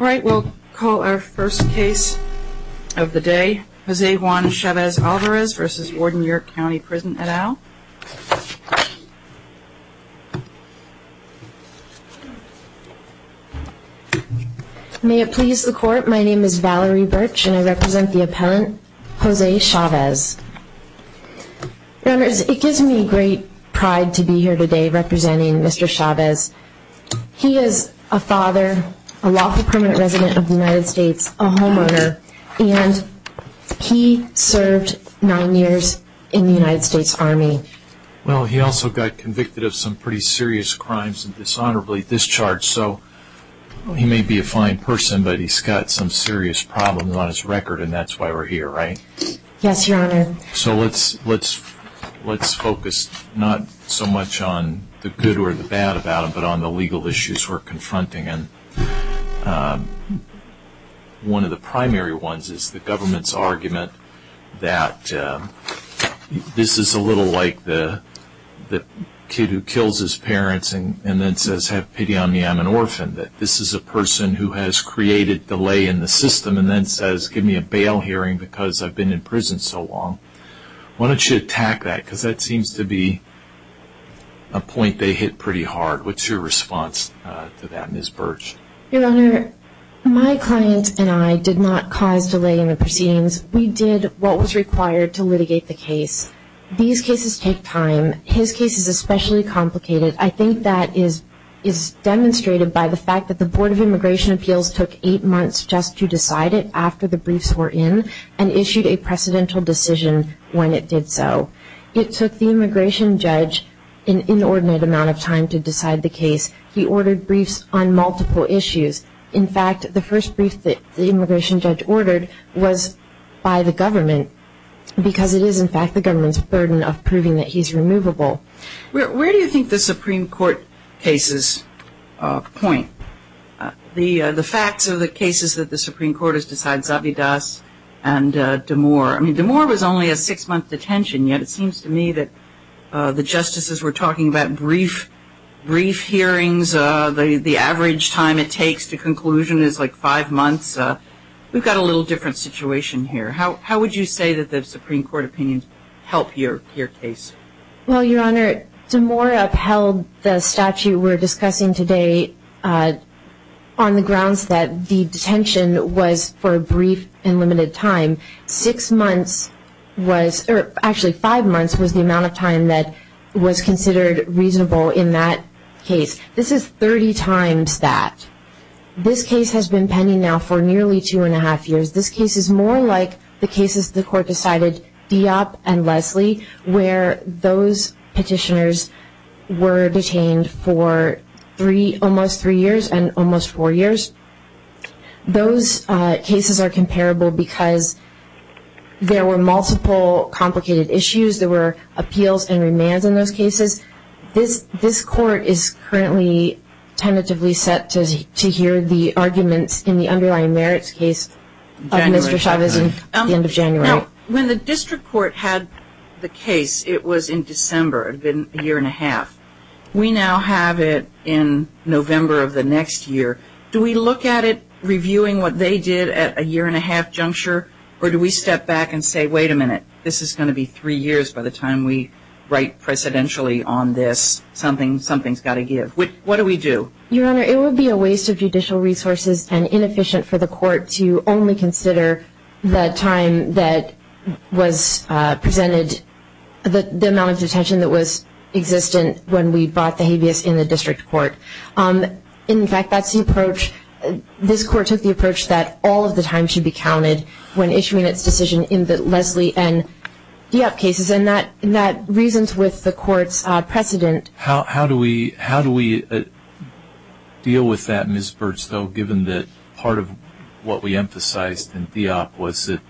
All right, we'll call our first case of the day, Jose Juan Chavez Alvarez v. Warden York County Prison et al. May it please the court, my name is Valerie Birch and I represent the appellant, Jose Chavez. Your Honor, it gives me great pride to be here today representing Mr. Chavez. He is a father, a lawful permanent resident of the United States, a homeowner, and he served nine years in the United States Army. Well, he also got convicted of some pretty serious crimes and dishonorably discharged, so he may be a fine person, but he's got some serious problems on his record and that's why we're here, right? Yes, Your Honor. So let's focus not so much on the good or the bad about him, but on the legal issues we're confronting. And one of the primary ones is the government's argument that this is a little like the kid who kills his parents and then says, that this is a person who has created delay in the system and then says, give me a bail hearing because I've been in prison so long. Why don't you attack that? Because that seems to be a point they hit pretty hard. What's your response to that, Ms. Birch? Your Honor, my client and I did not cause delay in the proceedings. We did what was required to litigate the case. These cases take time. His case is especially complicated. I think that is demonstrated by the fact that the Board of Immigration Appeals took eight months just to decide it after the briefs were in and issued a precedential decision when it did so. It took the immigration judge an inordinate amount of time to decide the case. He ordered briefs on multiple issues. In fact, the first brief that the immigration judge ordered was by the government because it is, in fact, the government's burden of proving that he's removable. Where do you think the Supreme Court cases point? The facts of the cases that the Supreme Court has decided, Zabidas and D'Amour. I mean, D'Amour was only a six-month detention, yet it seems to me that the justices were talking about brief hearings. The average time it takes to conclusion is like five months. We've got a little different situation here. How would you say that the Supreme Court opinions help your case? Well, Your Honor, D'Amour upheld the statute we're discussing today on the grounds that the detention was for a brief and limited time. Six months was or actually five months was the amount of time that was considered reasonable in that case. This is 30 times that. This case has been pending now for nearly two and a half years. This case is more like the cases the Court decided, Diop and Leslie, where those petitioners were detained for almost three years and almost four years. Those cases are comparable because there were multiple complicated issues. There were appeals and remands in those cases. This Court is currently tentatively set to hear the arguments in the underlying merits case of Mr. Chavez at the end of January. Now, when the District Court had the case, it was in December. It had been a year and a half. We now have it in November of the next year. Do we look at it reviewing what they did at a year and a half juncture, or do we step back and say, wait a minute, this is going to be three years by the time we write precedentially on this. Something's got to give. What do we do? Your Honor, it would be a waste of judicial resources and inefficient for the Court to only consider the time that was presented, the amount of detention that was existent when we brought the habeas in the District Court. In fact, that's the approach. This Court took the approach that all of the time should be counted when issuing its decision in the Leslie and DEOP cases, and that reasons with the Court's precedent. How do we deal with that, Ms. Burtstow, given that part of what we emphasized in DEOP was that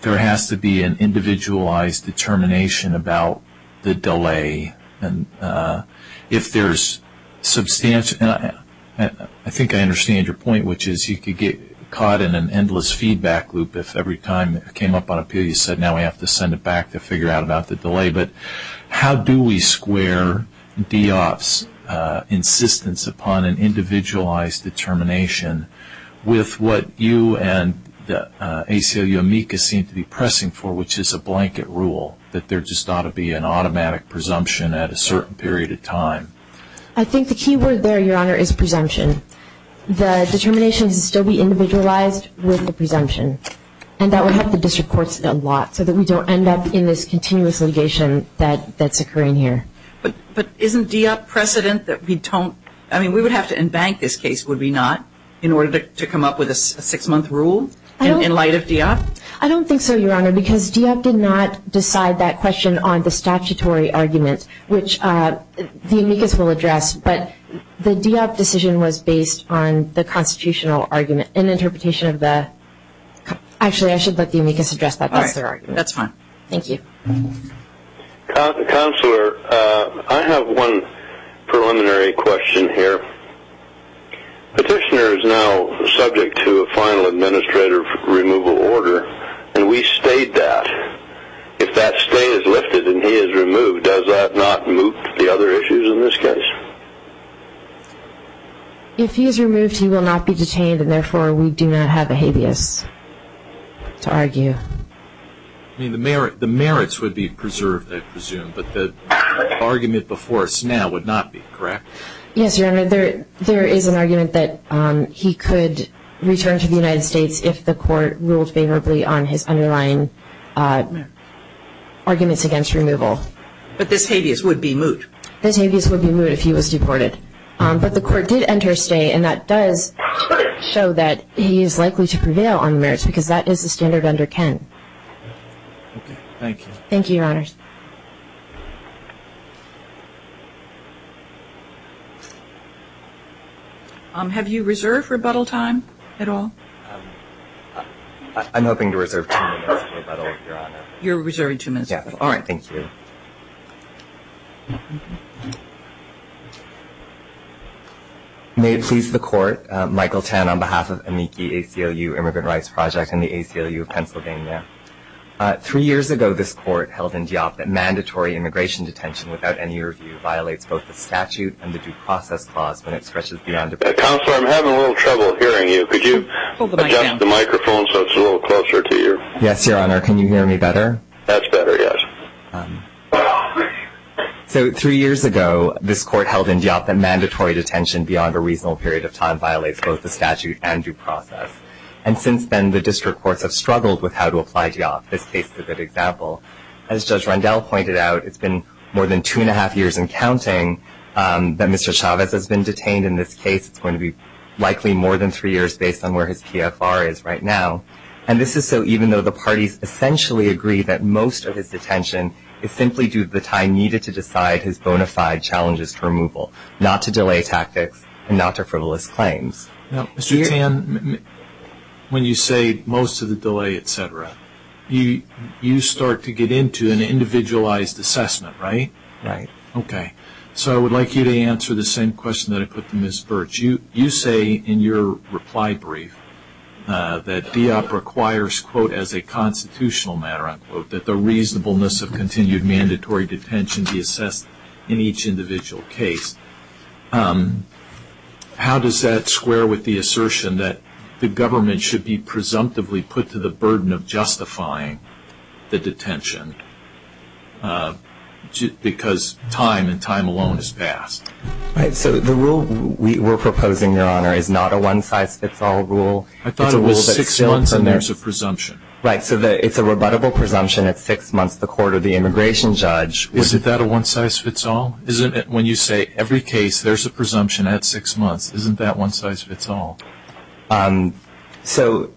there has to be an individualized determination about the delay. And if there's substantial, and I think I understand your point, which is you could get caught in an endless feedback loop if every time it came up on appeal you said, now we have to send it back to figure out about the delay. But how do we square DEOP's insistence upon an individualized determination with what you and the ACLU amicus seem to be pressing for, which is a blanket rule that there just ought to be an automatic presumption at a certain period of time. I think the key word there, Your Honor, is presumption. The determination should still be individualized with the presumption. And that would help the district courts a lot so that we don't end up in this continuous litigation that's occurring here. But isn't DEOP precedent that we don't, I mean, we would have to embank this case, would we not, in order to come up with a six-month rule in light of DEOP? I don't think so, Your Honor, because DEOP did not decide that question on the statutory argument, which the amicus will address. But the DEOP decision was based on the constitutional argument and interpretation of the – actually, I should let the amicus address that. That's their argument. All right. That's fine. Thank you. Counselor, I have one preliminary question here. Petitioner is now subject to a final administrative removal order, and we stayed that. If that stay is lifted and he is removed, does that not move the other issues in this case? If he is removed, he will not be detained, and therefore we do not have a habeas to argue. I mean, the merits would be preserved, I presume, but the argument before us now would not be, correct? Yes, Your Honor. There is an argument that he could return to the United States if the court ruled favorably on his underlying arguments against removal. But this habeas would be moot. This habeas would be moot if he was deported. But the court did enter a stay, and that does show that he is likely to prevail on the merits because that is the standard under Kent. Okay. Thank you. Thank you, Your Honors. Have you reserved rebuttal time at all? I'm hoping to reserve two minutes of rebuttal, Your Honor. You're reserving two minutes of rebuttal. Yes. All right. Thank you. May it please the Court, Michael Tan on behalf of AMICI ACLU Immigrant Rights Project and the ACLU of Pennsylvania. Three years ago this Court held in Diablo, that mandatory immigration detention without any review violates both the statute and the due process clause when it stretches beyond a reasonable period of time. Counselor, I'm having a little trouble hearing you. Could you adjust the microphone so it's a little closer to you? Yes, Your Honor. Can you hear me better? That's better, yes. So three years ago this Court held in Diablo that mandatory detention beyond a reasonable period of time violates both the statute and due process. And since then the district courts have struggled with how to apply Diablo. This case is a good example. As Judge Rendell pointed out, it's been more than two and a half years and counting that Mr. Chavez has been detained in this case. It's going to be likely more than three years based on where his PFR is right now. And this is so even though the parties essentially agree that most of his detention is simply due to the time needed to decide his bona fide challenges to removal, not to delay tactics and not to frivolous claims. Now, Mr. Tan, when you say most of the delay, et cetera, you start to get into an individualized assessment, right? Right. Okay. So I would like you to answer the same question that I put to Ms. Birch. You say in your reply brief that DEOP requires, quote, as a constitutional matter, unquote, that the reasonableness of continued mandatory detention be assessed in each individual case. How does that square with the assertion that the government should be presumptively put to the burden of justifying the detention because time and time alone has passed? Right. So the rule we're proposing, Your Honor, is not a one-size-fits-all rule. I thought it was six months and there's a presumption. Right. So it's a rebuttable presumption at six months to the court of the immigration judge. Is that a one-size-fits-all? When you say every case there's a presumption at six months, isn't that one-size-fits-all? So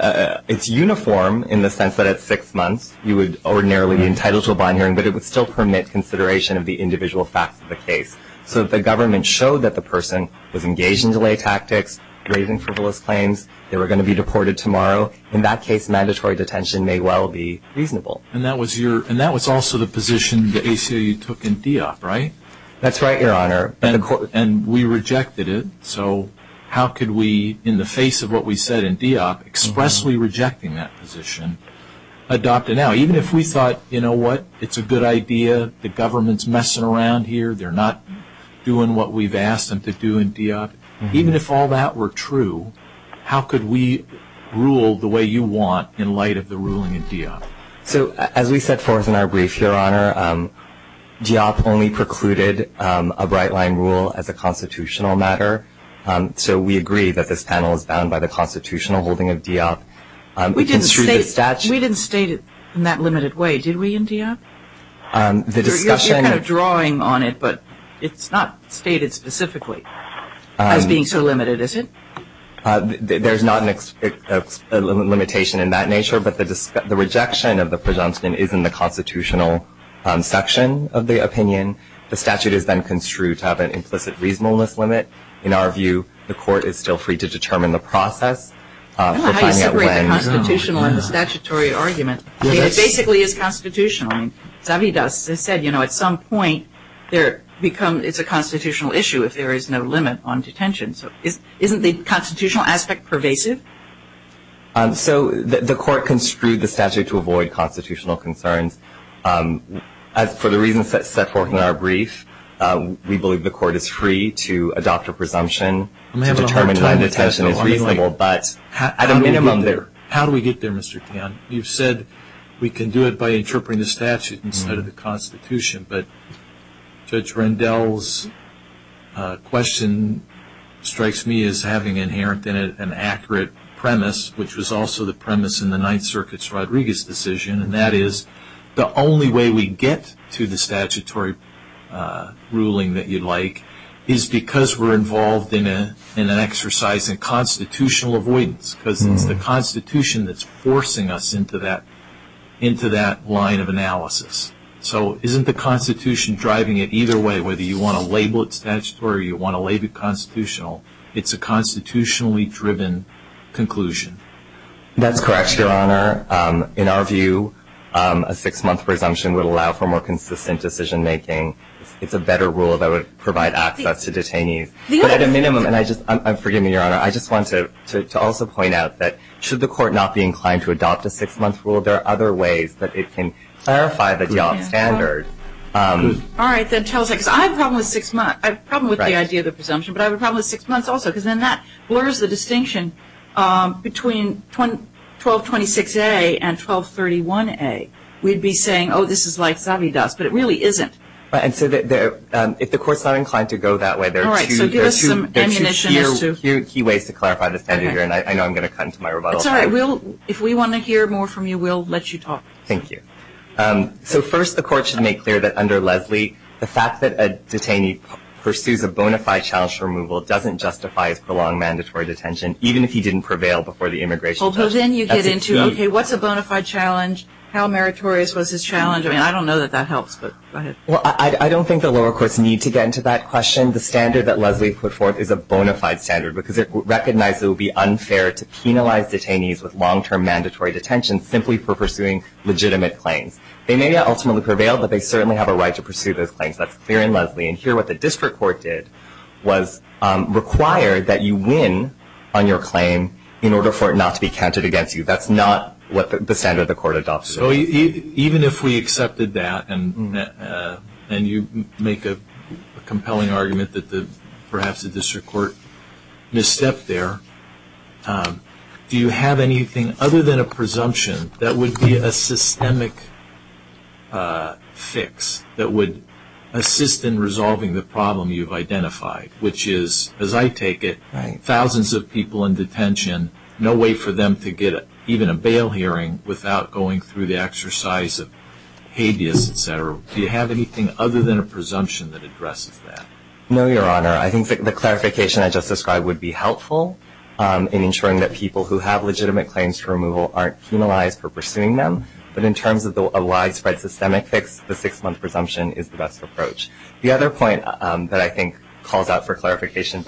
it's uniform in the sense that at six months you would ordinarily be entitled to a bond hearing, but it would still permit consideration of the individual facts of the case. So if the government showed that the person was engaged in delay tactics, raising frivolous claims, they were going to be deported tomorrow, in that case mandatory detention may well be reasonable. And that was also the position the ACLU took in DEOP, right? That's right, Your Honor. And we rejected it, so how could we, in the face of what we said in DEOP, expressly rejecting that position, adopt it now? Even if we thought, you know what, it's a good idea, the government's messing around here, they're not doing what we've asked them to do in DEOP, even if all that were true, how could we rule the way you want in light of the ruling in DEOP? So as we set forth in our brief, Your Honor, DEOP only precluded a bright-line rule as a constitutional matter, so we agree that this panel is bound by the constitutional holding of DEOP. We didn't state it in that limited way, did we, in DEOP? You're kind of drawing on it, but it's not stated specifically as being so limited, is it? There's not a limitation in that nature, but the rejection of the presumption is in the constitutional section of the opinion. The statute is then construed to have an implicit reasonableness limit. In our view, the court is still free to determine the process. I don't know how you separate the constitutional and the statutory argument. It basically is constitutional. I mean, Zavidas has said, you know, at some point it's a constitutional issue if there is no limit on detention. So isn't the constitutional aspect pervasive? So the court construed the statute to avoid constitutional concerns. For the reasons set forth in our brief, we believe the court is free to adopt a presumption to determine whether detention is reasonable, but at a minimum there. How do we get there, Mr. Tian? You've said we can do it by interpreting the statute instead of the Constitution, but Judge Rendell's question strikes me as having inherent in it an accurate premise, which was also the premise in the Ninth Circuit's Rodriguez decision, and that is the only way we get to the statutory ruling that you'd like is because we're involved in an exercise in constitutional avoidance because it's the Constitution that's forcing us into that line of analysis. So isn't the Constitution driving it either way, whether you want to label it statutory or you want to label it constitutional? It's a constitutionally driven conclusion. That's correct, Your Honor. In our view, a six-month presumption would allow for more consistent decision-making. It's a better rule that would provide access to detainees. But at a minimum, and forgive me, Your Honor, I just want to also point out that should the court not be inclined to adopt a six-month rule, there are other ways that it can clarify the job standard. All right, then tell us. Because I have a problem with six months. I have a problem with the idea of the presumption, but I have a problem with six months also because then that blurs the distinction between 1226A and 1231A. We'd be saying, oh, this is like savvy dust, but it really isn't. And so if the court's not inclined to go that way, there are two key ways to clarify the standard here, and I know I'm going to cut into my rebuttal time. That's all right. If we want to hear more from you, we'll let you talk. Thank you. So first the court should make clear that under Leslie, the fact that a detainee pursues a bona fide challenge for removal doesn't justify his prolonged mandatory detention, even if he didn't prevail before the immigration test. Although then you get into, okay, what's a bona fide challenge? How meritorious was his challenge? I mean, I don't know that that helps, but go ahead. Well, I don't think the lower courts need to get into that question. The standard that Leslie put forth is a bona fide standard because it recognizes it would be unfair to penalize detainees with long-term mandatory detention simply for pursuing legitimate claims. They may not ultimately prevail, but they certainly have a right to pursue those claims. That's clear in Leslie. And here what the district court did was require that you win on your claim in order for it not to be counted against you. That's not what the standard the court adopts. Even if we accepted that and you make a compelling argument that perhaps the district court misstepped there, do you have anything other than a presumption that would be a systemic fix that would assist in resolving the problem you've identified, which is, as I take it, thousands of people in detention, no way for them to get even a bail hearing without going through the exercise of habeas, et cetera? Do you have anything other than a presumption that addresses that? No, Your Honor. I think the clarification I just described would be helpful in ensuring that people who have legitimate claims for removal aren't penalized for pursuing them. But in terms of a widespread systemic fix, the six-month presumption is the best approach. The other point that I think calls out for clarification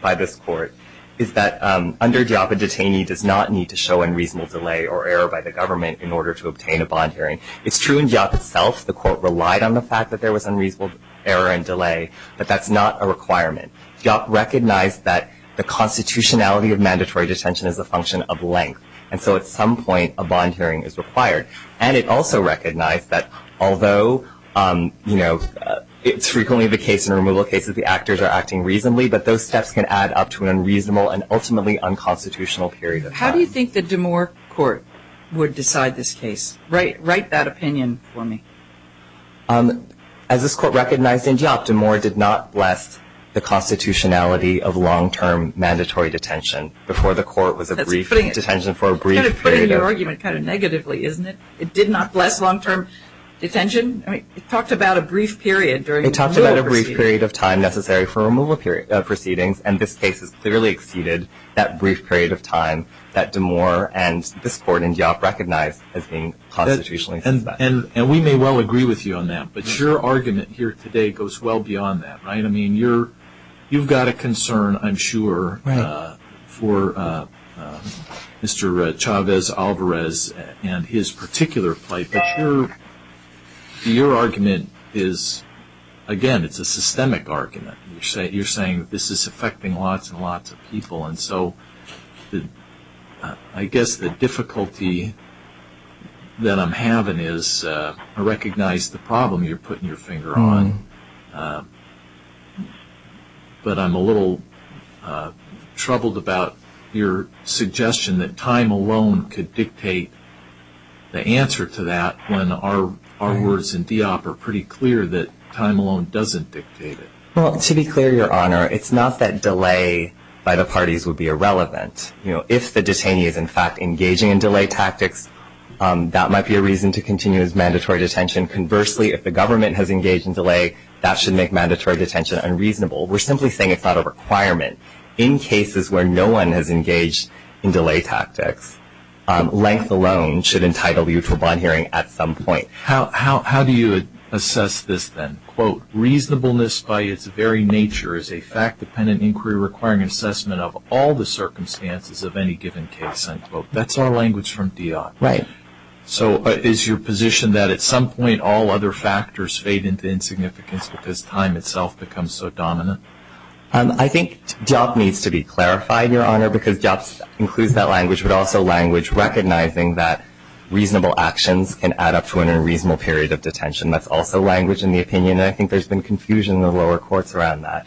by this court is that under DEOP, a detainee does not need to show unreasonable delay or error by the government in order to obtain a bond hearing. It's true in DEOP itself the court relied on the fact that there was unreasonable error and delay, but that's not a requirement. DEOP recognized that the constitutionality of mandatory detention is a function of length, and so at some point a bond hearing is required. And it also recognized that although, you know, it's frequently the case in removal cases the actors are acting reasonably, but those steps can add up to an unreasonable and ultimately unconstitutional period of time. How do you think the D'Amour court would decide this case? Write that opinion for me. As this court recognized in DEOP, D'Amour did not bless the constitutionality of long-term mandatory detention. That's putting your argument kind of negatively, isn't it? It did not bless long-term detention? I mean, it talked about a brief period during the removal proceedings. It talked about a brief period of time necessary for removal proceedings, and this case has clearly exceeded that brief period of time that D'Amour and this court in DEOP recognized as being constitutionally suspect. And we may well agree with you on that, but your argument here today goes well beyond that, right? I mean, you've got a concern, I'm sure, for Mr. Chavez-Alvarez and his particular plight, but your argument is, again, it's a systemic argument. You're saying this is affecting lots and lots of people, and so I guess the difficulty that I'm having is I recognize the problem you're putting your finger on, but I'm a little troubled about your suggestion that time alone could dictate the answer to that when our words in DEOP are pretty clear that time alone doesn't dictate it. Well, to be clear, Your Honor, it's not that delay by the parties would be irrelevant. If the detainee is, in fact, engaging in delay tactics, that might be a reason to continue his mandatory detention. Conversely, if the government has engaged in delay, that should make mandatory detention unreasonable. We're simply saying it's not a requirement. In cases where no one has engaged in delay tactics, length alone should entitle you to a bond hearing at some point. How do you assess this, then? Quote, reasonableness by its very nature is a fact-dependent inquiry requiring assessment of all the circumstances of any given case. End quote. That's our language from DEOP. Right. So is your position that at some point all other factors fade into insignificance because time itself becomes so dominant? I think DEOP needs to be clarified, Your Honor, because DEOP includes that language, but also language recognizing that reasonable actions can add up to an unreasonable period of detention. That's also language in the opinion, and I think there's been confusion in the lower courts around that.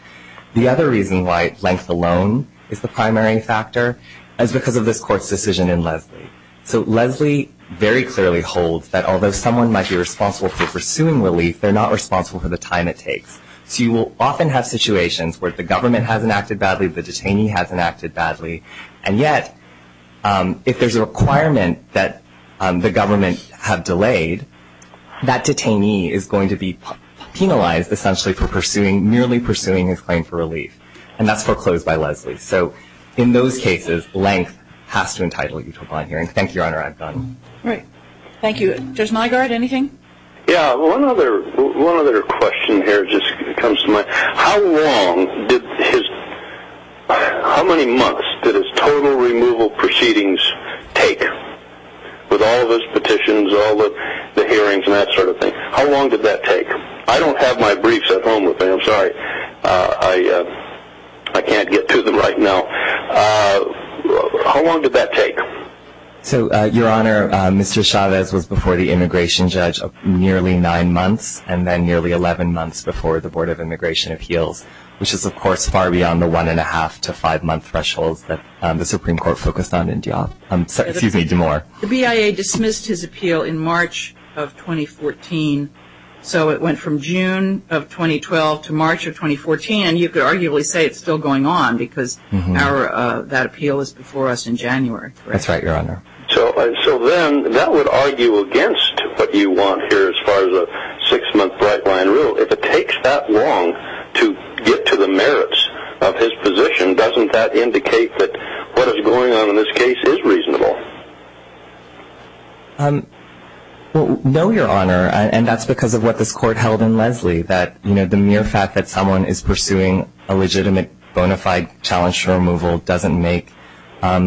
The other reason why length alone is the primary factor is because of this Court's decision in Leslie. So Leslie very clearly holds that although someone might be responsible for pursuing relief, they're not responsible for the time it takes. So you will often have situations where the government hasn't acted badly, the detainee hasn't acted badly, and yet if there's a requirement that the government have delayed, that detainee is going to be penalized essentially for merely pursuing his claim for relief, and that's foreclosed by Leslie. So in those cases, length has to entitle you to a bond hearing. Thank you, Your Honor. I'm done. All right. Thank you. Judge Mygaard, anything? Yeah. One other question here just comes to mind. How long did his – how many months did his total removal proceedings take with all of his petitions, all of the hearings and that sort of thing? How long did that take? I don't have my briefs at home with me. I'm sorry. I can't get to them right now. How long did that take? So, Your Honor, Mr. Chavez was before the immigration judge nearly nine months and then nearly 11 months before the Board of Immigration Appeals, which is, of course, far beyond the one-and-a-half to five-month thresholds that the Supreme Court focused on in DeMore. The BIA dismissed his appeal in March of 2014, so it went from June of 2012 to March of 2014, and you could arguably say it's still going on because that appeal is before us in January. That's right, Your Honor. So then that would argue against what you want here as far as a six-month bright-line rule. If it takes that long to get to the merits of his position, doesn't that indicate that what is going on in this case is reasonable? No, Your Honor, and that's because of what this Court held in Leslie, that the mere fact that someone is pursuing a legitimate bona fide challenge to removal doesn't make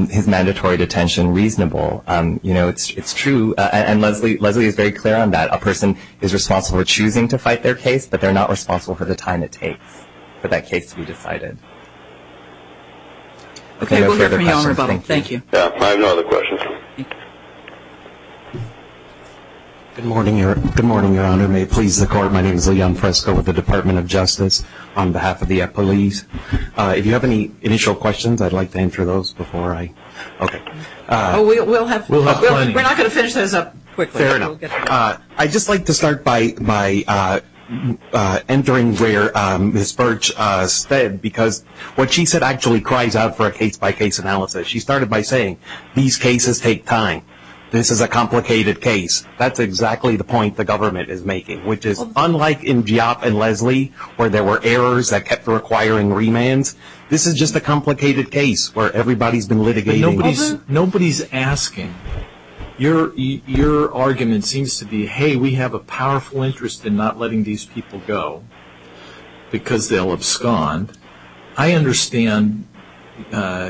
his mandatory detention reasonable. It's true, and Leslie is very clear on that. A person is responsible for choosing to fight their case, but they're not responsible for the time it takes for that case to be decided. Okay, we'll hear from you, Your Honor, about it. Thank you. I have no other questions. Good morning, Your Honor. May it please the Court, my name is Leon Fresco with the Department of Justice. On behalf of the police, if you have any initial questions, I'd like to answer those before I... Okay. We'll have plenty. We're not going to finish those up quickly. Fair enough. I'd just like to start by entering where Ms. Birch said, because what she said actually cries out for a case-by-case analysis. She started by saying, these cases take time. This is a complicated case. That's exactly the point the government is making, which is unlike in Giap and Leslie where there were errors that kept requiring remands, this is just a complicated case where everybody's been litigating. Nobody's asking. Your argument seems to be, hey, we have a powerful interest in not letting these people go because they'll abscond. I understand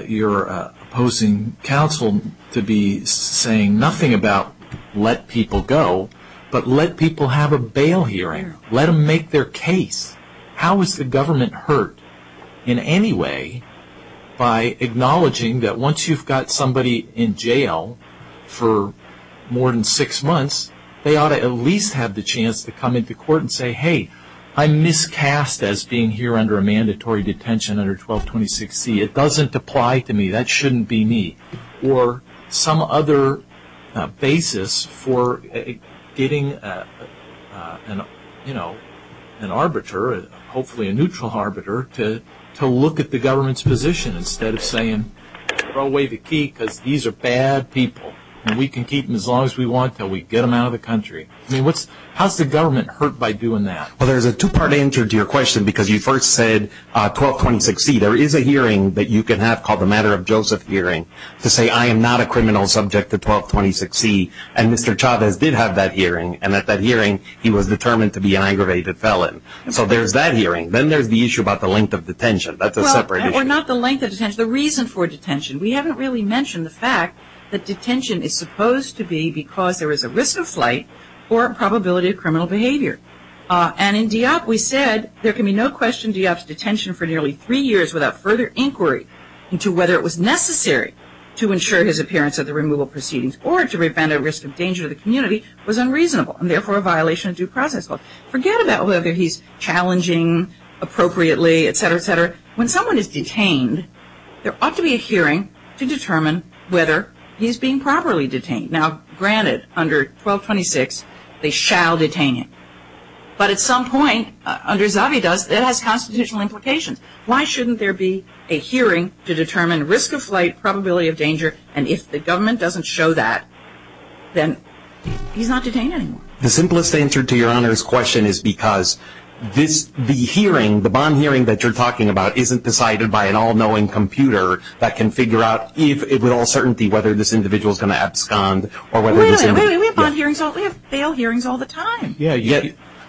your opposing counsel to be saying nothing about let people go, but let people have a bail hearing. Let them make their case. How is the government hurt in any way by acknowledging that once you've got somebody in jail for more than six months, they ought to at least have the chance to come into court and say, hey, I'm miscast as being here under a mandatory detention under 1226C. It doesn't apply to me. That shouldn't be me. Or some other basis for getting an arbiter, hopefully a neutral arbiter, to look at the government's position instead of saying, throw away the key because these are bad people and we can keep them as long as we want until we get them out of the country. I mean, how's the government hurt by doing that? Well, there's a two-part answer to your question because you first said 1226C. There is a hearing that you can have called the Matter of Joseph hearing to say, I am not a criminal subject to 1226C, and Mr. Chavez did have that hearing, and at that hearing he was determined to be an aggravated felon. So there's that hearing. Then there's the issue about the length of detention. That's a separate issue. Well, or not the length of detention, the reason for detention. We haven't really mentioned the fact that detention is supposed to be because there is a risk of flight or a probability of criminal behavior. And in DEOP, we said there can be no question DEOP's detention for nearly three years without further inquiry into whether it was necessary to ensure his appearance at the removal proceedings or to prevent a risk of danger to the community was unreasonable and therefore a violation of due process. Forget about whether he's challenging appropriately, et cetera, et cetera. When someone is detained, there ought to be a hearing to determine whether he's being properly detained. Now, granted, under 1226, they shall detain him. But at some point, under Zavi does, it has constitutional implications. Why shouldn't there be a hearing to determine risk of flight, probability of danger, and if the government doesn't show that, then he's not detained anymore. The simplest answer to Your Honor's question is because the hearing, the bond hearing that you're talking about isn't decided by an all-knowing computer that can figure out with all certainty whether this individual is going to abscond. We have bail hearings all the time. Yes,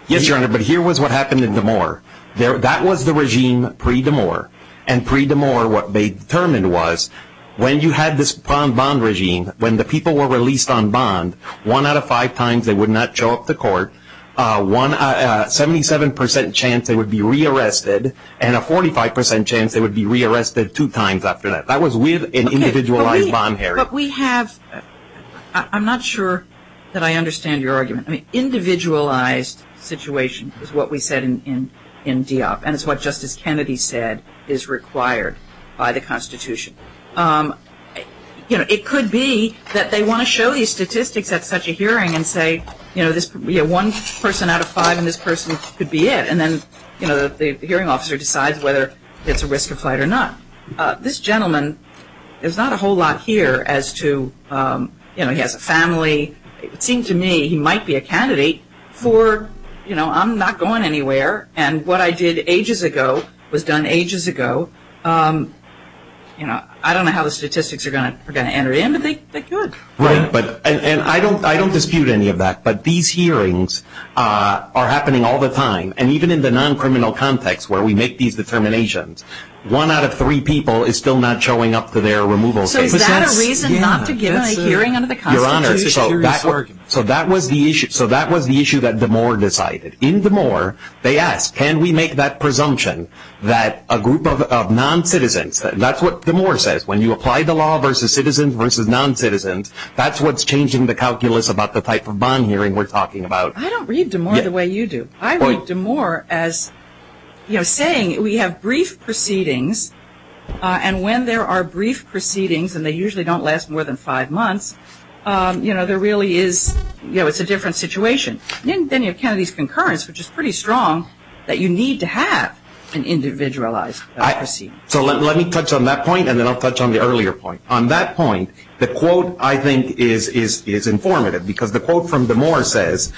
Your Honor, but here was what happened in DeMoore. That was the regime pre-DeMoore, and pre-DeMoore what they determined was when you had this bond regime, when the people were released on bond, one out of five times they would not show up to court, a 77 percent chance they would be rearrested, and a 45 percent chance they would be rearrested two times after that. That was with an individualized bond hearing. But we have – I'm not sure that I understand your argument. Individualized situation is what we said in DEOP, and it's what Justice Kennedy said is required by the Constitution. You know, it could be that they want to show these statistics at such a hearing and say, you know, one person out of five in this person could be it, and then, you know, the hearing officer decides whether it's a risk of flight or not. This gentleman, there's not a whole lot here as to, you know, he has a family. It seemed to me he might be a candidate for, you know, I'm not going anywhere, and what I did ages ago was done ages ago. You know, I don't know how the statistics are going to enter in, but they could. Right, and I don't dispute any of that, but these hearings are happening all the time, and even in the non-criminal context where we make these determinations, one out of three people is still not showing up to their removal case. So is that a reason not to give a hearing under the Constitution? Your Honor, so that was the issue that DeMoore decided. In DeMoore, they asked, can we make that presumption that a group of non-citizens, that's what DeMoore says, when you apply the law versus citizens versus non-citizens, that's what's changing the calculus about the type of bond hearing we're talking about. I don't read DeMoore the way you do. I read DeMoore as, you know, saying we have brief proceedings, and when there are brief proceedings, and they usually don't last more than five months, you know, there really is, you know, it's a different situation. Then you have Kennedy's concurrence, which is pretty strong, that you need to have an individualized proceeding. So let me touch on that point, and then I'll touch on the earlier point. On that point, the quote, I think, is informative, because the quote from DeMoore says,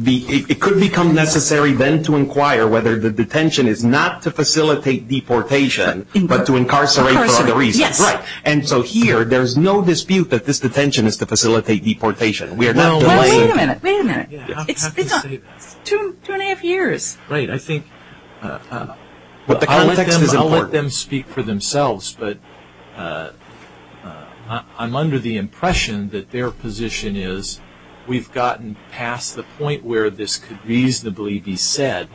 it could become necessary then to inquire whether the detention is not to facilitate deportation, but to incarcerate for other reasons. And so here there's no dispute that this detention is to facilitate deportation. We are not delaying it. Wait a minute, wait a minute. It's two and a half years. Right. I think I'll let them speak for themselves. But I'm under the impression that their position is we've gotten past the point where this could reasonably be said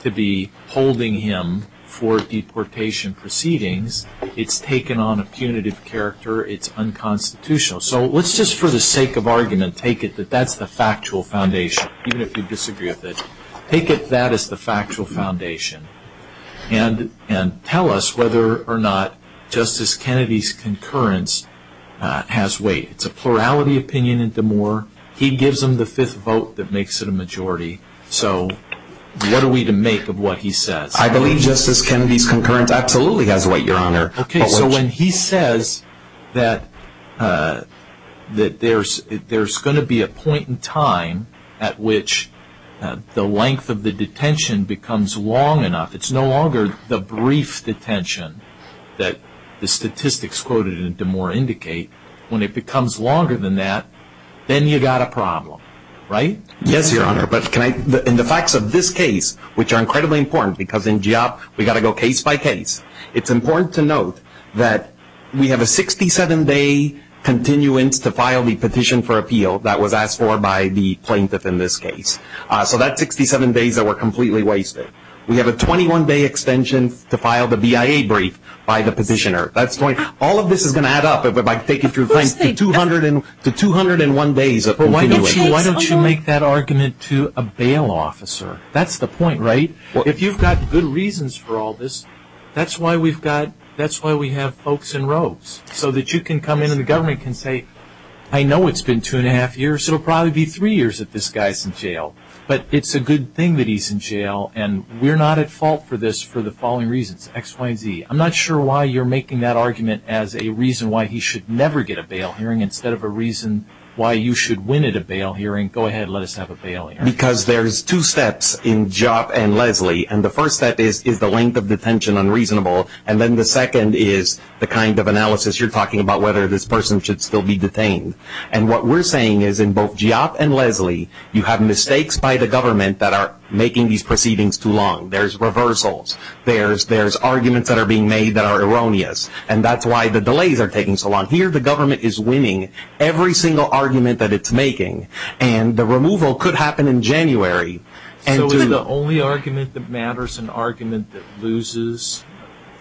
to be holding him for deportation proceedings. It's taken on a punitive character. It's unconstitutional. So let's just, for the sake of argument, take it that that's the factual foundation, even if you disagree with it. Take it that is the factual foundation, and tell us whether or not Justice Kennedy's concurrence has weight. It's a plurality opinion in DeMoore. He gives them the fifth vote that makes it a majority. So what are we to make of what he says? I believe Justice Kennedy's concurrence absolutely has weight, Your Honor. Okay, so when he says that there's going to be a point in time at which the length of the detention becomes long enough, it's no longer the brief detention that the statistics quoted in DeMoore indicate. When it becomes longer than that, then you've got a problem, right? Yes, Your Honor. But in the facts of this case, which are incredibly important, because in GIOP we've got to go case by case, it's important to note that we have a 67-day continuance to file the petition for appeal that was asked for by the plaintiff in this case. So that's 67 days that were completely wasted. We have a 21-day extension to file the BIA brief by the petitioner. All of this is going to add up if I take it to 201 days of continuance. But why don't you make that argument to a bail officer? That's the point, right? If you've got good reasons for all this, that's why we have folks in robes, so that you can come in and the government can say, I know it's been two and a half years, so it'll probably be three years that this guy's in jail. But it's a good thing that he's in jail, and we're not at fault for this for the following reasons, X, Y, Z. I'm not sure why you're making that argument as a reason why he should never get a bail hearing instead of a reason why you should win at a bail hearing. Go ahead, let us have a bail hearing. Because there's two steps in Giap and Leslie. And the first step is the length of detention unreasonable. And then the second is the kind of analysis you're talking about, whether this person should still be detained. And what we're saying is in both Giap and Leslie, you have mistakes by the government that are making these proceedings too long. There's reversals. There's arguments that are being made that are erroneous. And that's why the delays are taking so long. Here the government is winning every single argument that it's making. And the removal could happen in January. So is the only argument that matters an argument that loses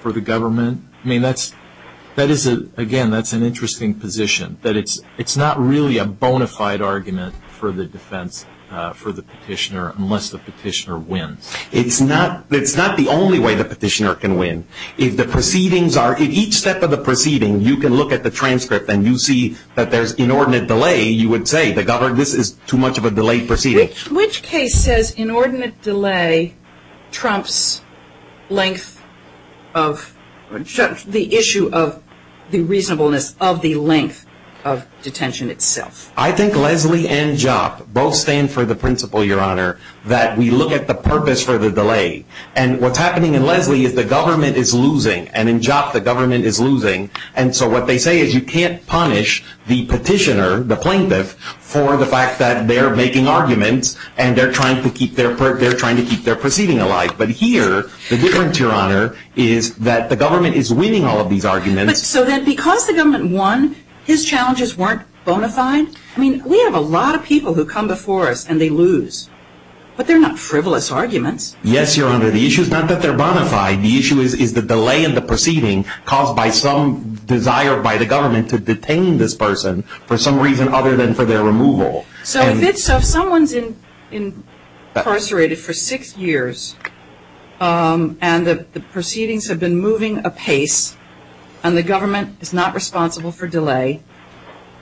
for the government? I mean, again, that's an interesting position, that it's not really a bona fide argument for the defense for the petitioner unless the petitioner wins. It's not the only way the petitioner can win. If each step of the proceeding, you can look at the transcript and you see that there's inordinate delay, you would say this is too much of a delayed proceeding. Which case says inordinate delay trumps the issue of the reasonableness of the length of detention itself? I think Leslie and Giap both stand for the principle, Your Honor, that we look at the purpose for the delay. And what's happening in Leslie is the government is losing. And in Giap, the government is losing. And so what they say is you can't punish the petitioner, the plaintiff, for the fact that they're making arguments and they're trying to keep their proceeding alive. But here the difference, Your Honor, is that the government is winning all of these arguments. So then because the government won, his challenges weren't bona fide? I mean, we have a lot of people who come before us and they lose. But they're not frivolous arguments. Yes, Your Honor, the issue is not that they're bona fide. The issue is the delay in the proceeding caused by some desire by the government to detain this person for some reason other than for their removal. So if someone's incarcerated for six years and the proceedings have been moving apace and the government is not responsible for delay,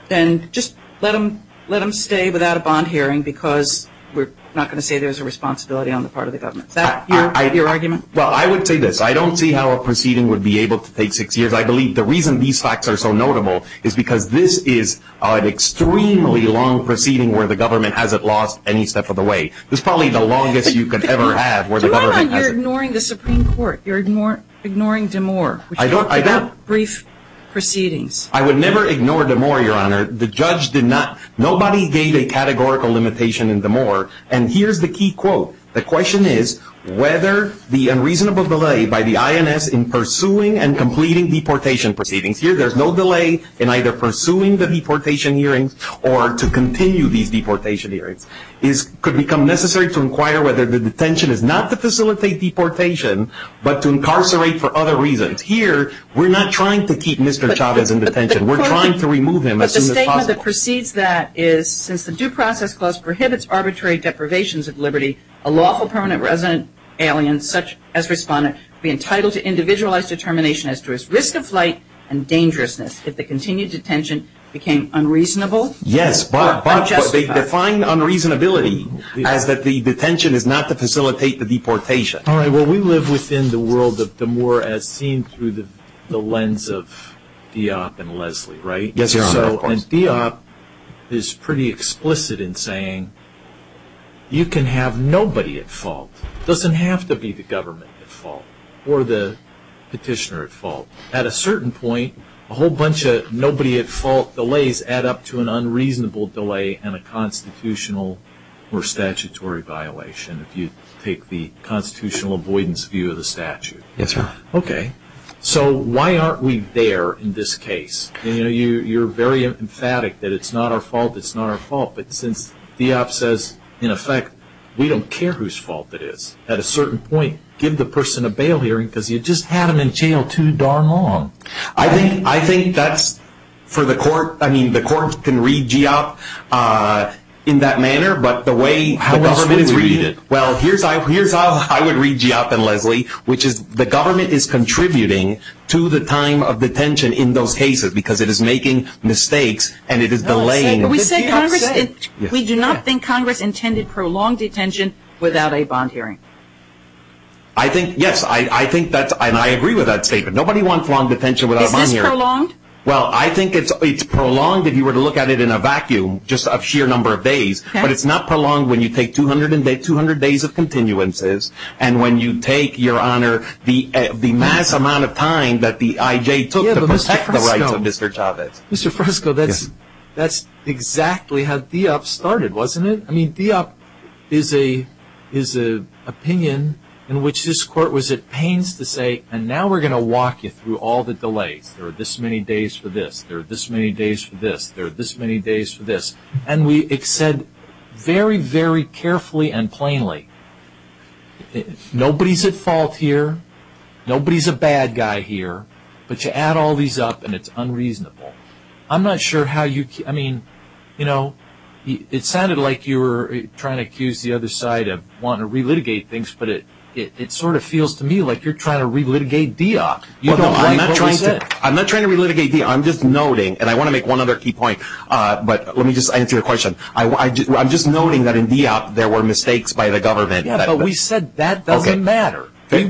then just let them stay without a bond hearing because we're not going to say there's a responsibility on the part of the government. Is that your argument? Well, I would say this. I don't see how a proceeding would be able to take six years. I believe the reason these facts are so notable is because this is an extremely long proceeding where the government hasn't lost any step of the way. It's probably the longest you could ever have where the government hasn't... Do I know you're ignoring the Supreme Court? You're ignoring DeMoor? I don't. Brief proceedings. I would never ignore DeMoor, Your Honor. The judge did not. Nobody gave a categorical limitation in DeMoor. And here's the key quote. The question is whether the unreasonable delay by the INS in pursuing and completing deportation proceedings. Here there's no delay in either pursuing the deportation hearings or to continue these deportation hearings. It could become necessary to inquire whether the detention is not to facilitate deportation but to incarcerate for other reasons. Here we're not trying to keep Mr. Chavez in detention. We're trying to remove him as soon as possible. The law that precedes that is since the due process clause prohibits arbitrary deprivations of liberty, a lawful permanent resident alien, such as respondent, be entitled to individualized determination as to his risk of flight and dangerousness if the continued detention became unreasonable or unjustified. Yes, but they define unreasonability as that the detention is not to facilitate the deportation. All right. Well, we live within the world of DeMoor as seen through the lens of Diop and Leslie, right? Yes, sir. And Diop is pretty explicit in saying you can have nobody at fault. It doesn't have to be the government at fault or the petitioner at fault. At a certain point, a whole bunch of nobody at fault delays add up to an unreasonable delay and a constitutional or statutory violation if you take the constitutional avoidance view of the statute. Yes, sir. Okay. So why aren't we there in this case? You know, you're very emphatic that it's not our fault, it's not our fault, but since Diop says, in effect, we don't care whose fault it is. At a certain point, give the person a bail hearing because you just had them in jail too darn long. I think that's for the court. I mean, the court can read Diop in that manner, but the way the government is reading it. Well, here's how I would read Diop and Leslie, which is the government is contributing to the time of detention in those cases because it is making mistakes and it is delaying. We do not think Congress intended prolonged detention without a bond hearing. I think, yes, I agree with that statement. Nobody wants long detention without a bond hearing. Is this prolonged? Well, I think it's prolonged if you were to look at it in a vacuum, just a sheer number of days, but it's not prolonged when you take 200 days of continuances and when you take, Your Honor, the mass amount of time that the IJ took to protect the rights of Mr. Chavez. Mr. Fresco, that's exactly how Diop started, wasn't it? I mean, Diop is an opinion in which this court was at pains to say, and now we're going to walk you through all the delays. There are this many days for this. There are this many days for this. There are this many days for this. And it said very, very carefully and plainly, nobody's at fault here. Nobody's a bad guy here. But you add all these up and it's unreasonable. I'm not sure how you, I mean, you know, it sounded like you were trying to accuse the other side of wanting to relitigate things, but it sort of feels to me like you're trying to relitigate Diop. I'm not trying to relitigate Diop. I'm just noting, and I want to make one other key point. But let me just answer your question. I'm just noting that in Diop there were mistakes by the government. Yeah, but we said that doesn't matter.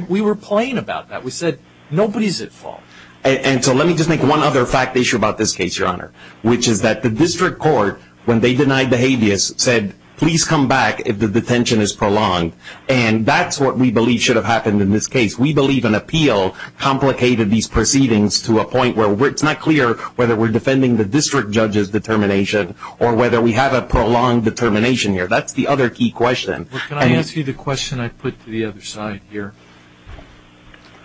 We were plain about that. We said nobody's at fault. And so let me just make one other fact issue about this case, Your Honor, which is that the district court, when they denied the habeas, said, please come back if the detention is prolonged. And that's what we believe should have happened in this case. We believe an appeal complicated these proceedings to a point where it's not clear whether we're defending the district judge's determination or whether we have a prolonged determination here. That's the other key question. Can I ask you the question I put to the other side here?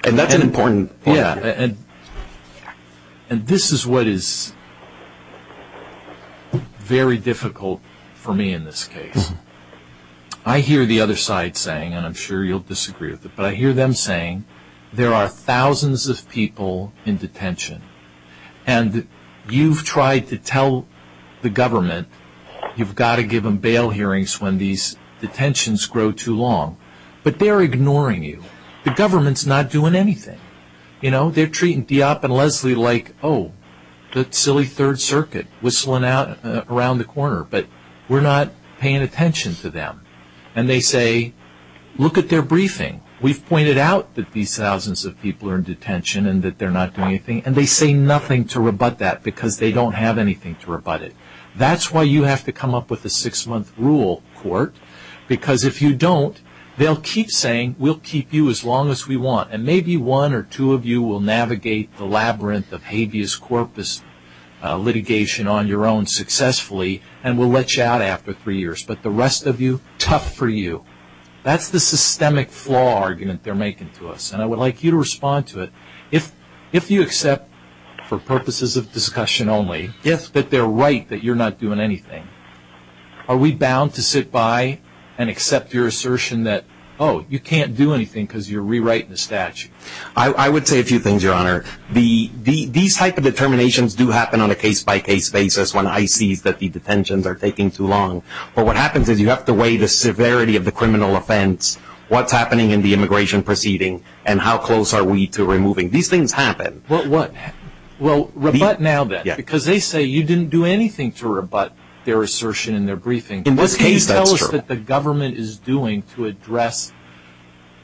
And that's an important point. Yeah, and this is what is very difficult for me in this case. I hear the other side saying, and I'm sure you'll disagree with it, but I hear them saying there are thousands of people in detention. And you've tried to tell the government you've got to give them bail hearings when these detentions grow too long. But they're ignoring you. The government's not doing anything. You know, they're treating Diop and Leslie like, oh, that silly Third Circuit, whistling out around the corner. But we're not paying attention to them. And they say, look at their briefing. We've pointed out that these thousands of people are in detention and that they're not doing anything. And they say nothing to rebut that because they don't have anything to rebut it. That's why you have to come up with a six-month rule, Court, because if you don't, they'll keep saying, we'll keep you as long as we want. And maybe one or two of you will navigate the labyrinth of habeas corpus litigation on your own successfully and we'll let you out after three years. But the rest of you, tough for you. That's the systemic flaw argument they're making to us. And I would like you to respond to it. If you accept for purposes of discussion only that they're right, that you're not doing anything, you can't do anything because you're rewriting the statute. I would say a few things, Your Honor. These type of determinations do happen on a case-by-case basis when I see that the detentions are taking too long. But what happens is you have to weigh the severity of the criminal offense, what's happening in the immigration proceeding, and how close are we to removing. These things happen. Well, rebut now then. Because they say you didn't do anything to rebut their assertion in their briefing. In this case, that's true. What can you tell us that the government is doing to address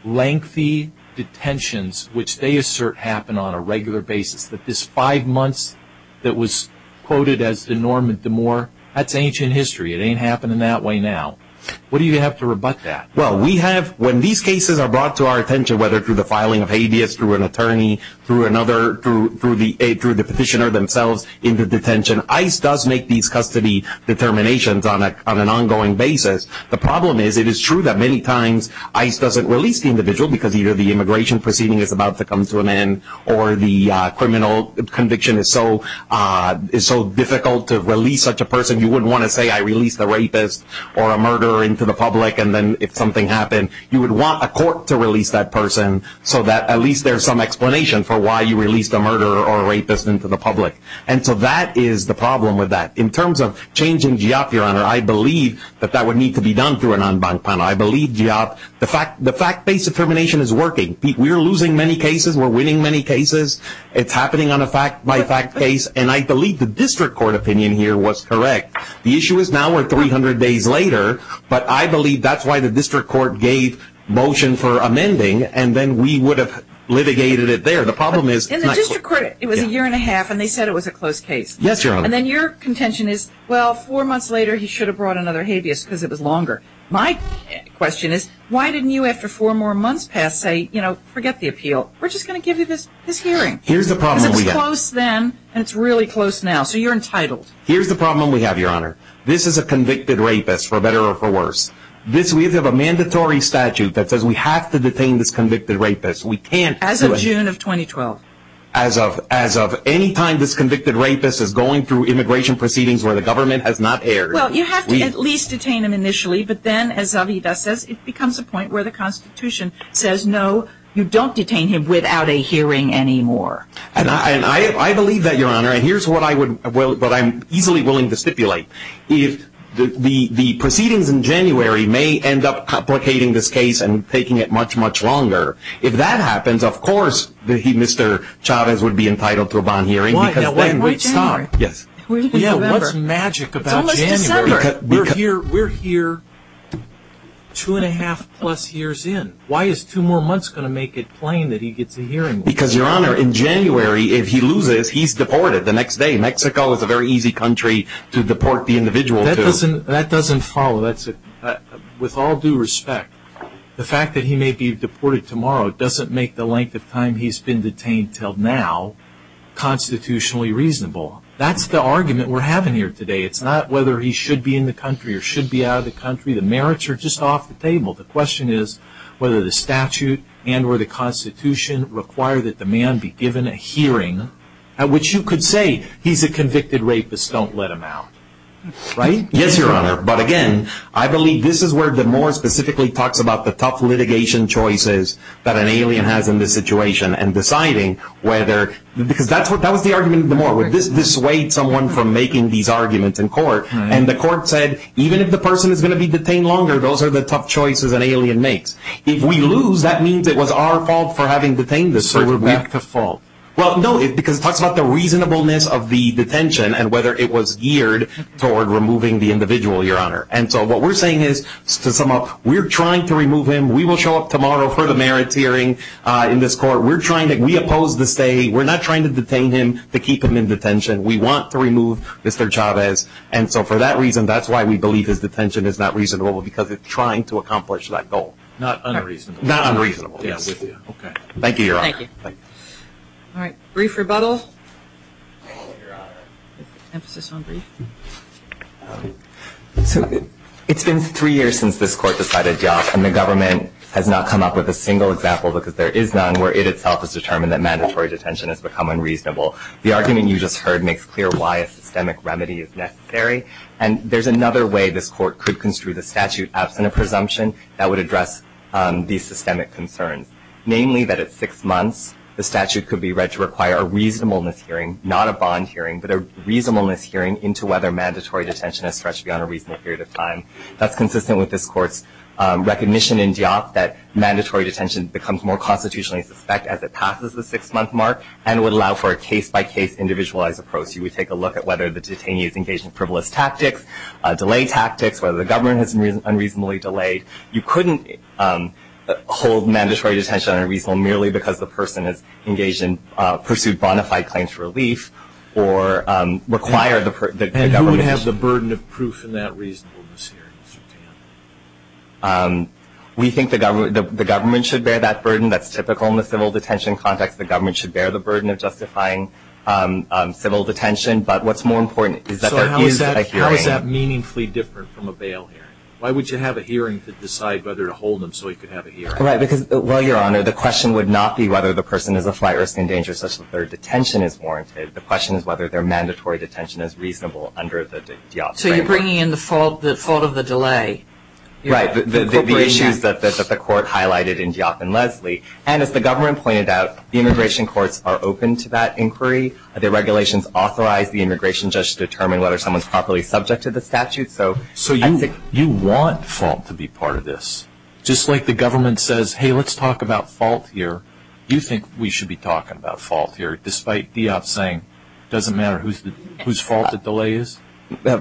lengthy detentions, which they assert happen on a regular basis, that this five months that was quoted as the Norman DeMoor, that's ancient history. It ain't happening that way now. What do you have to rebut that? Well, we have, when these cases are brought to our attention, whether through the filing of habeas through an attorney, through another, through the petitioner themselves into detention, ICE does make these custody determinations on an ongoing basis. The problem is it is true that many times ICE doesn't release the individual because either the immigration proceeding is about to come to an end or the criminal conviction is so difficult to release such a person. You wouldn't want to say I released a rapist or a murderer into the public, and then if something happened you would want a court to release that person so that at least there's some explanation for why you released a murderer or a rapist into the public. And so that is the problem with that. In terms of changing GIOP, Your Honor, I believe that that would need to be done through an en banc panel. I believe GIOP, the fact-based determination is working. We're losing many cases. We're winning many cases. It's happening on a fact-by-fact case, and I believe the district court opinion here was correct. The issue is now we're 300 days later, but I believe that's why the district court gave motion for amending, and then we would have litigated it there. In the district court it was a year and a half, and they said it was a close case. Yes, Your Honor. And then your contention is, well, four months later he should have brought another habeas because it was longer. My question is, why didn't you after four more months pass say, you know, forget the appeal. We're just going to give you this hearing. Here's the problem we have. Because it was close then, and it's really close now, so you're entitled. Here's the problem we have, Your Honor. This is a convicted rapist, for better or for worse. We have a mandatory statute that says we have to detain this convicted rapist. We can't do it. As of June of 2012. As of any time this convicted rapist is going through immigration proceedings where the government has not erred. Well, you have to at least detain him initially, but then as Zavita says it becomes a point where the Constitution says no, you don't detain him without a hearing anymore. And I believe that, Your Honor, and here's what I'm easily willing to stipulate. The proceedings in January may end up complicating this case and taking it much, much longer. If that happens, of course Mr. Chavez would be entitled to a bond hearing. Why January? Yes. What's magic about January? It's almost December. We're here two and a half plus years in. Why is two more months going to make it plain that he gets a hearing? Because, Your Honor, in January if he loses, he's deported the next day. Mexico is a very easy country to deport the individual to. That doesn't follow. With all due respect, the fact that he may be deported tomorrow doesn't make the length of time he's been detained until now constitutionally reasonable. That's the argument we're having here today. It's not whether he should be in the country or should be out of the country. The merits are just off the table. The question is whether the statute and or the Constitution require that the man be given a hearing at which you could say he's a convicted rapist. Don't let him out. Right? Yes, Your Honor. But, again, I believe this is where DeMore specifically talks about the tough litigation choices that an alien has in this situation. That was the argument of DeMore. This dissuades someone from making these arguments in court. The court said even if the person is going to be detained longer, those are the tough choices an alien makes. If we lose, that means it was our fault for having detained this person. So we're back to fault. Well, no, because it talks about the reasonableness of the detention and whether it was geared toward removing the individual, Your Honor. And so what we're saying is, to sum up, we're trying to remove him. We will show up tomorrow for the merits hearing in this court. We're trying to – we oppose the stay. We're not trying to detain him to keep him in detention. We want to remove Mr. Chavez. And so for that reason, that's why we believe his detention is not reasonable, because it's trying to accomplish that goal. Not unreasonable, yes. Okay. Thank you, Your Honor. Thank you. All right. Brief rebuttal. Thank you, Your Honor. Emphasis on brief. So it's been three years since this court decided yes, and the government has not come up with a single example because there is none, where it itself has determined that mandatory detention has become unreasonable. The argument you just heard makes clear why a systemic remedy is necessary, and there's another way this court could construe the statute absent a presumption that would address these systemic concerns, namely that at six months, the statute could be read to require a reasonableness hearing, not a bond hearing, but a reasonableness hearing into whether mandatory detention has stretched beyond a reasonable period of time. That's consistent with this court's recognition in DIOP that mandatory detention becomes more constitutionally suspect as it passes the six-month mark and would allow for a case-by-case, individualized approach. You would take a look at whether the detainee is engaged in frivolous tactics, delay tactics, whether the government has unreasonably delayed. You couldn't hold mandatory detention unreasonable merely because the person is engaged in or pursued bona fide claims for relief or require the government to do so. And who would have the burden of proof in that reasonableness hearing? We think the government should bear that burden. That's typical in the civil detention context. The government should bear the burden of justifying civil detention. But what's more important is that there is a hearing. So how is that meaningfully different from a bail hearing? Why would you have a hearing to decide whether to hold them so you could have a hearing? Right, because, well, Your Honor, the question would not be whether the person is a flight risk in danger such that their detention is warranted. The question is whether their mandatory detention is reasonable under the DIOP framework. So you're bringing in the fault of the delay. Right, the issue is that the court highlighted in DIOP and Leslie. And as the government pointed out, the immigration courts are open to that inquiry. The regulations authorize the immigration judge to determine whether someone is properly subject to the statute. So you want fault to be part of this. Just like the government says, hey, let's talk about fault here, you think we should be talking about fault here despite DIOP saying it doesn't matter whose fault the delay is?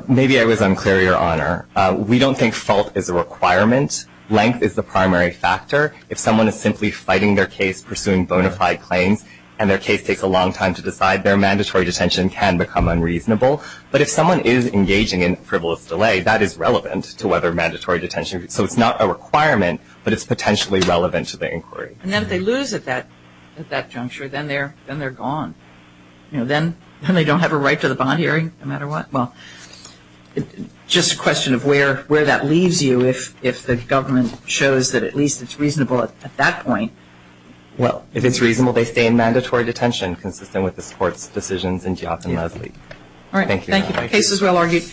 Maybe I was unclear, Your Honor. We don't think fault is a requirement. Length is the primary factor. If someone is simply fighting their case, pursuing bona fide claims, and their case takes a long time to decide, their mandatory detention can become unreasonable. But if someone is engaging in frivolous delay, that is relevant to whether mandatory detention, so it's not a requirement, but it's potentially relevant to the inquiry. And then if they lose at that juncture, then they're gone. Then they don't have a right to the bond hearing no matter what. Well, just a question of where that leaves you if the government shows that at least it's reasonable at that point. Well, if it's reasonable, they stay in mandatory detention consistent with the court's decisions in DIOP and Leslie. Thank you. Thank you. The case is well argued.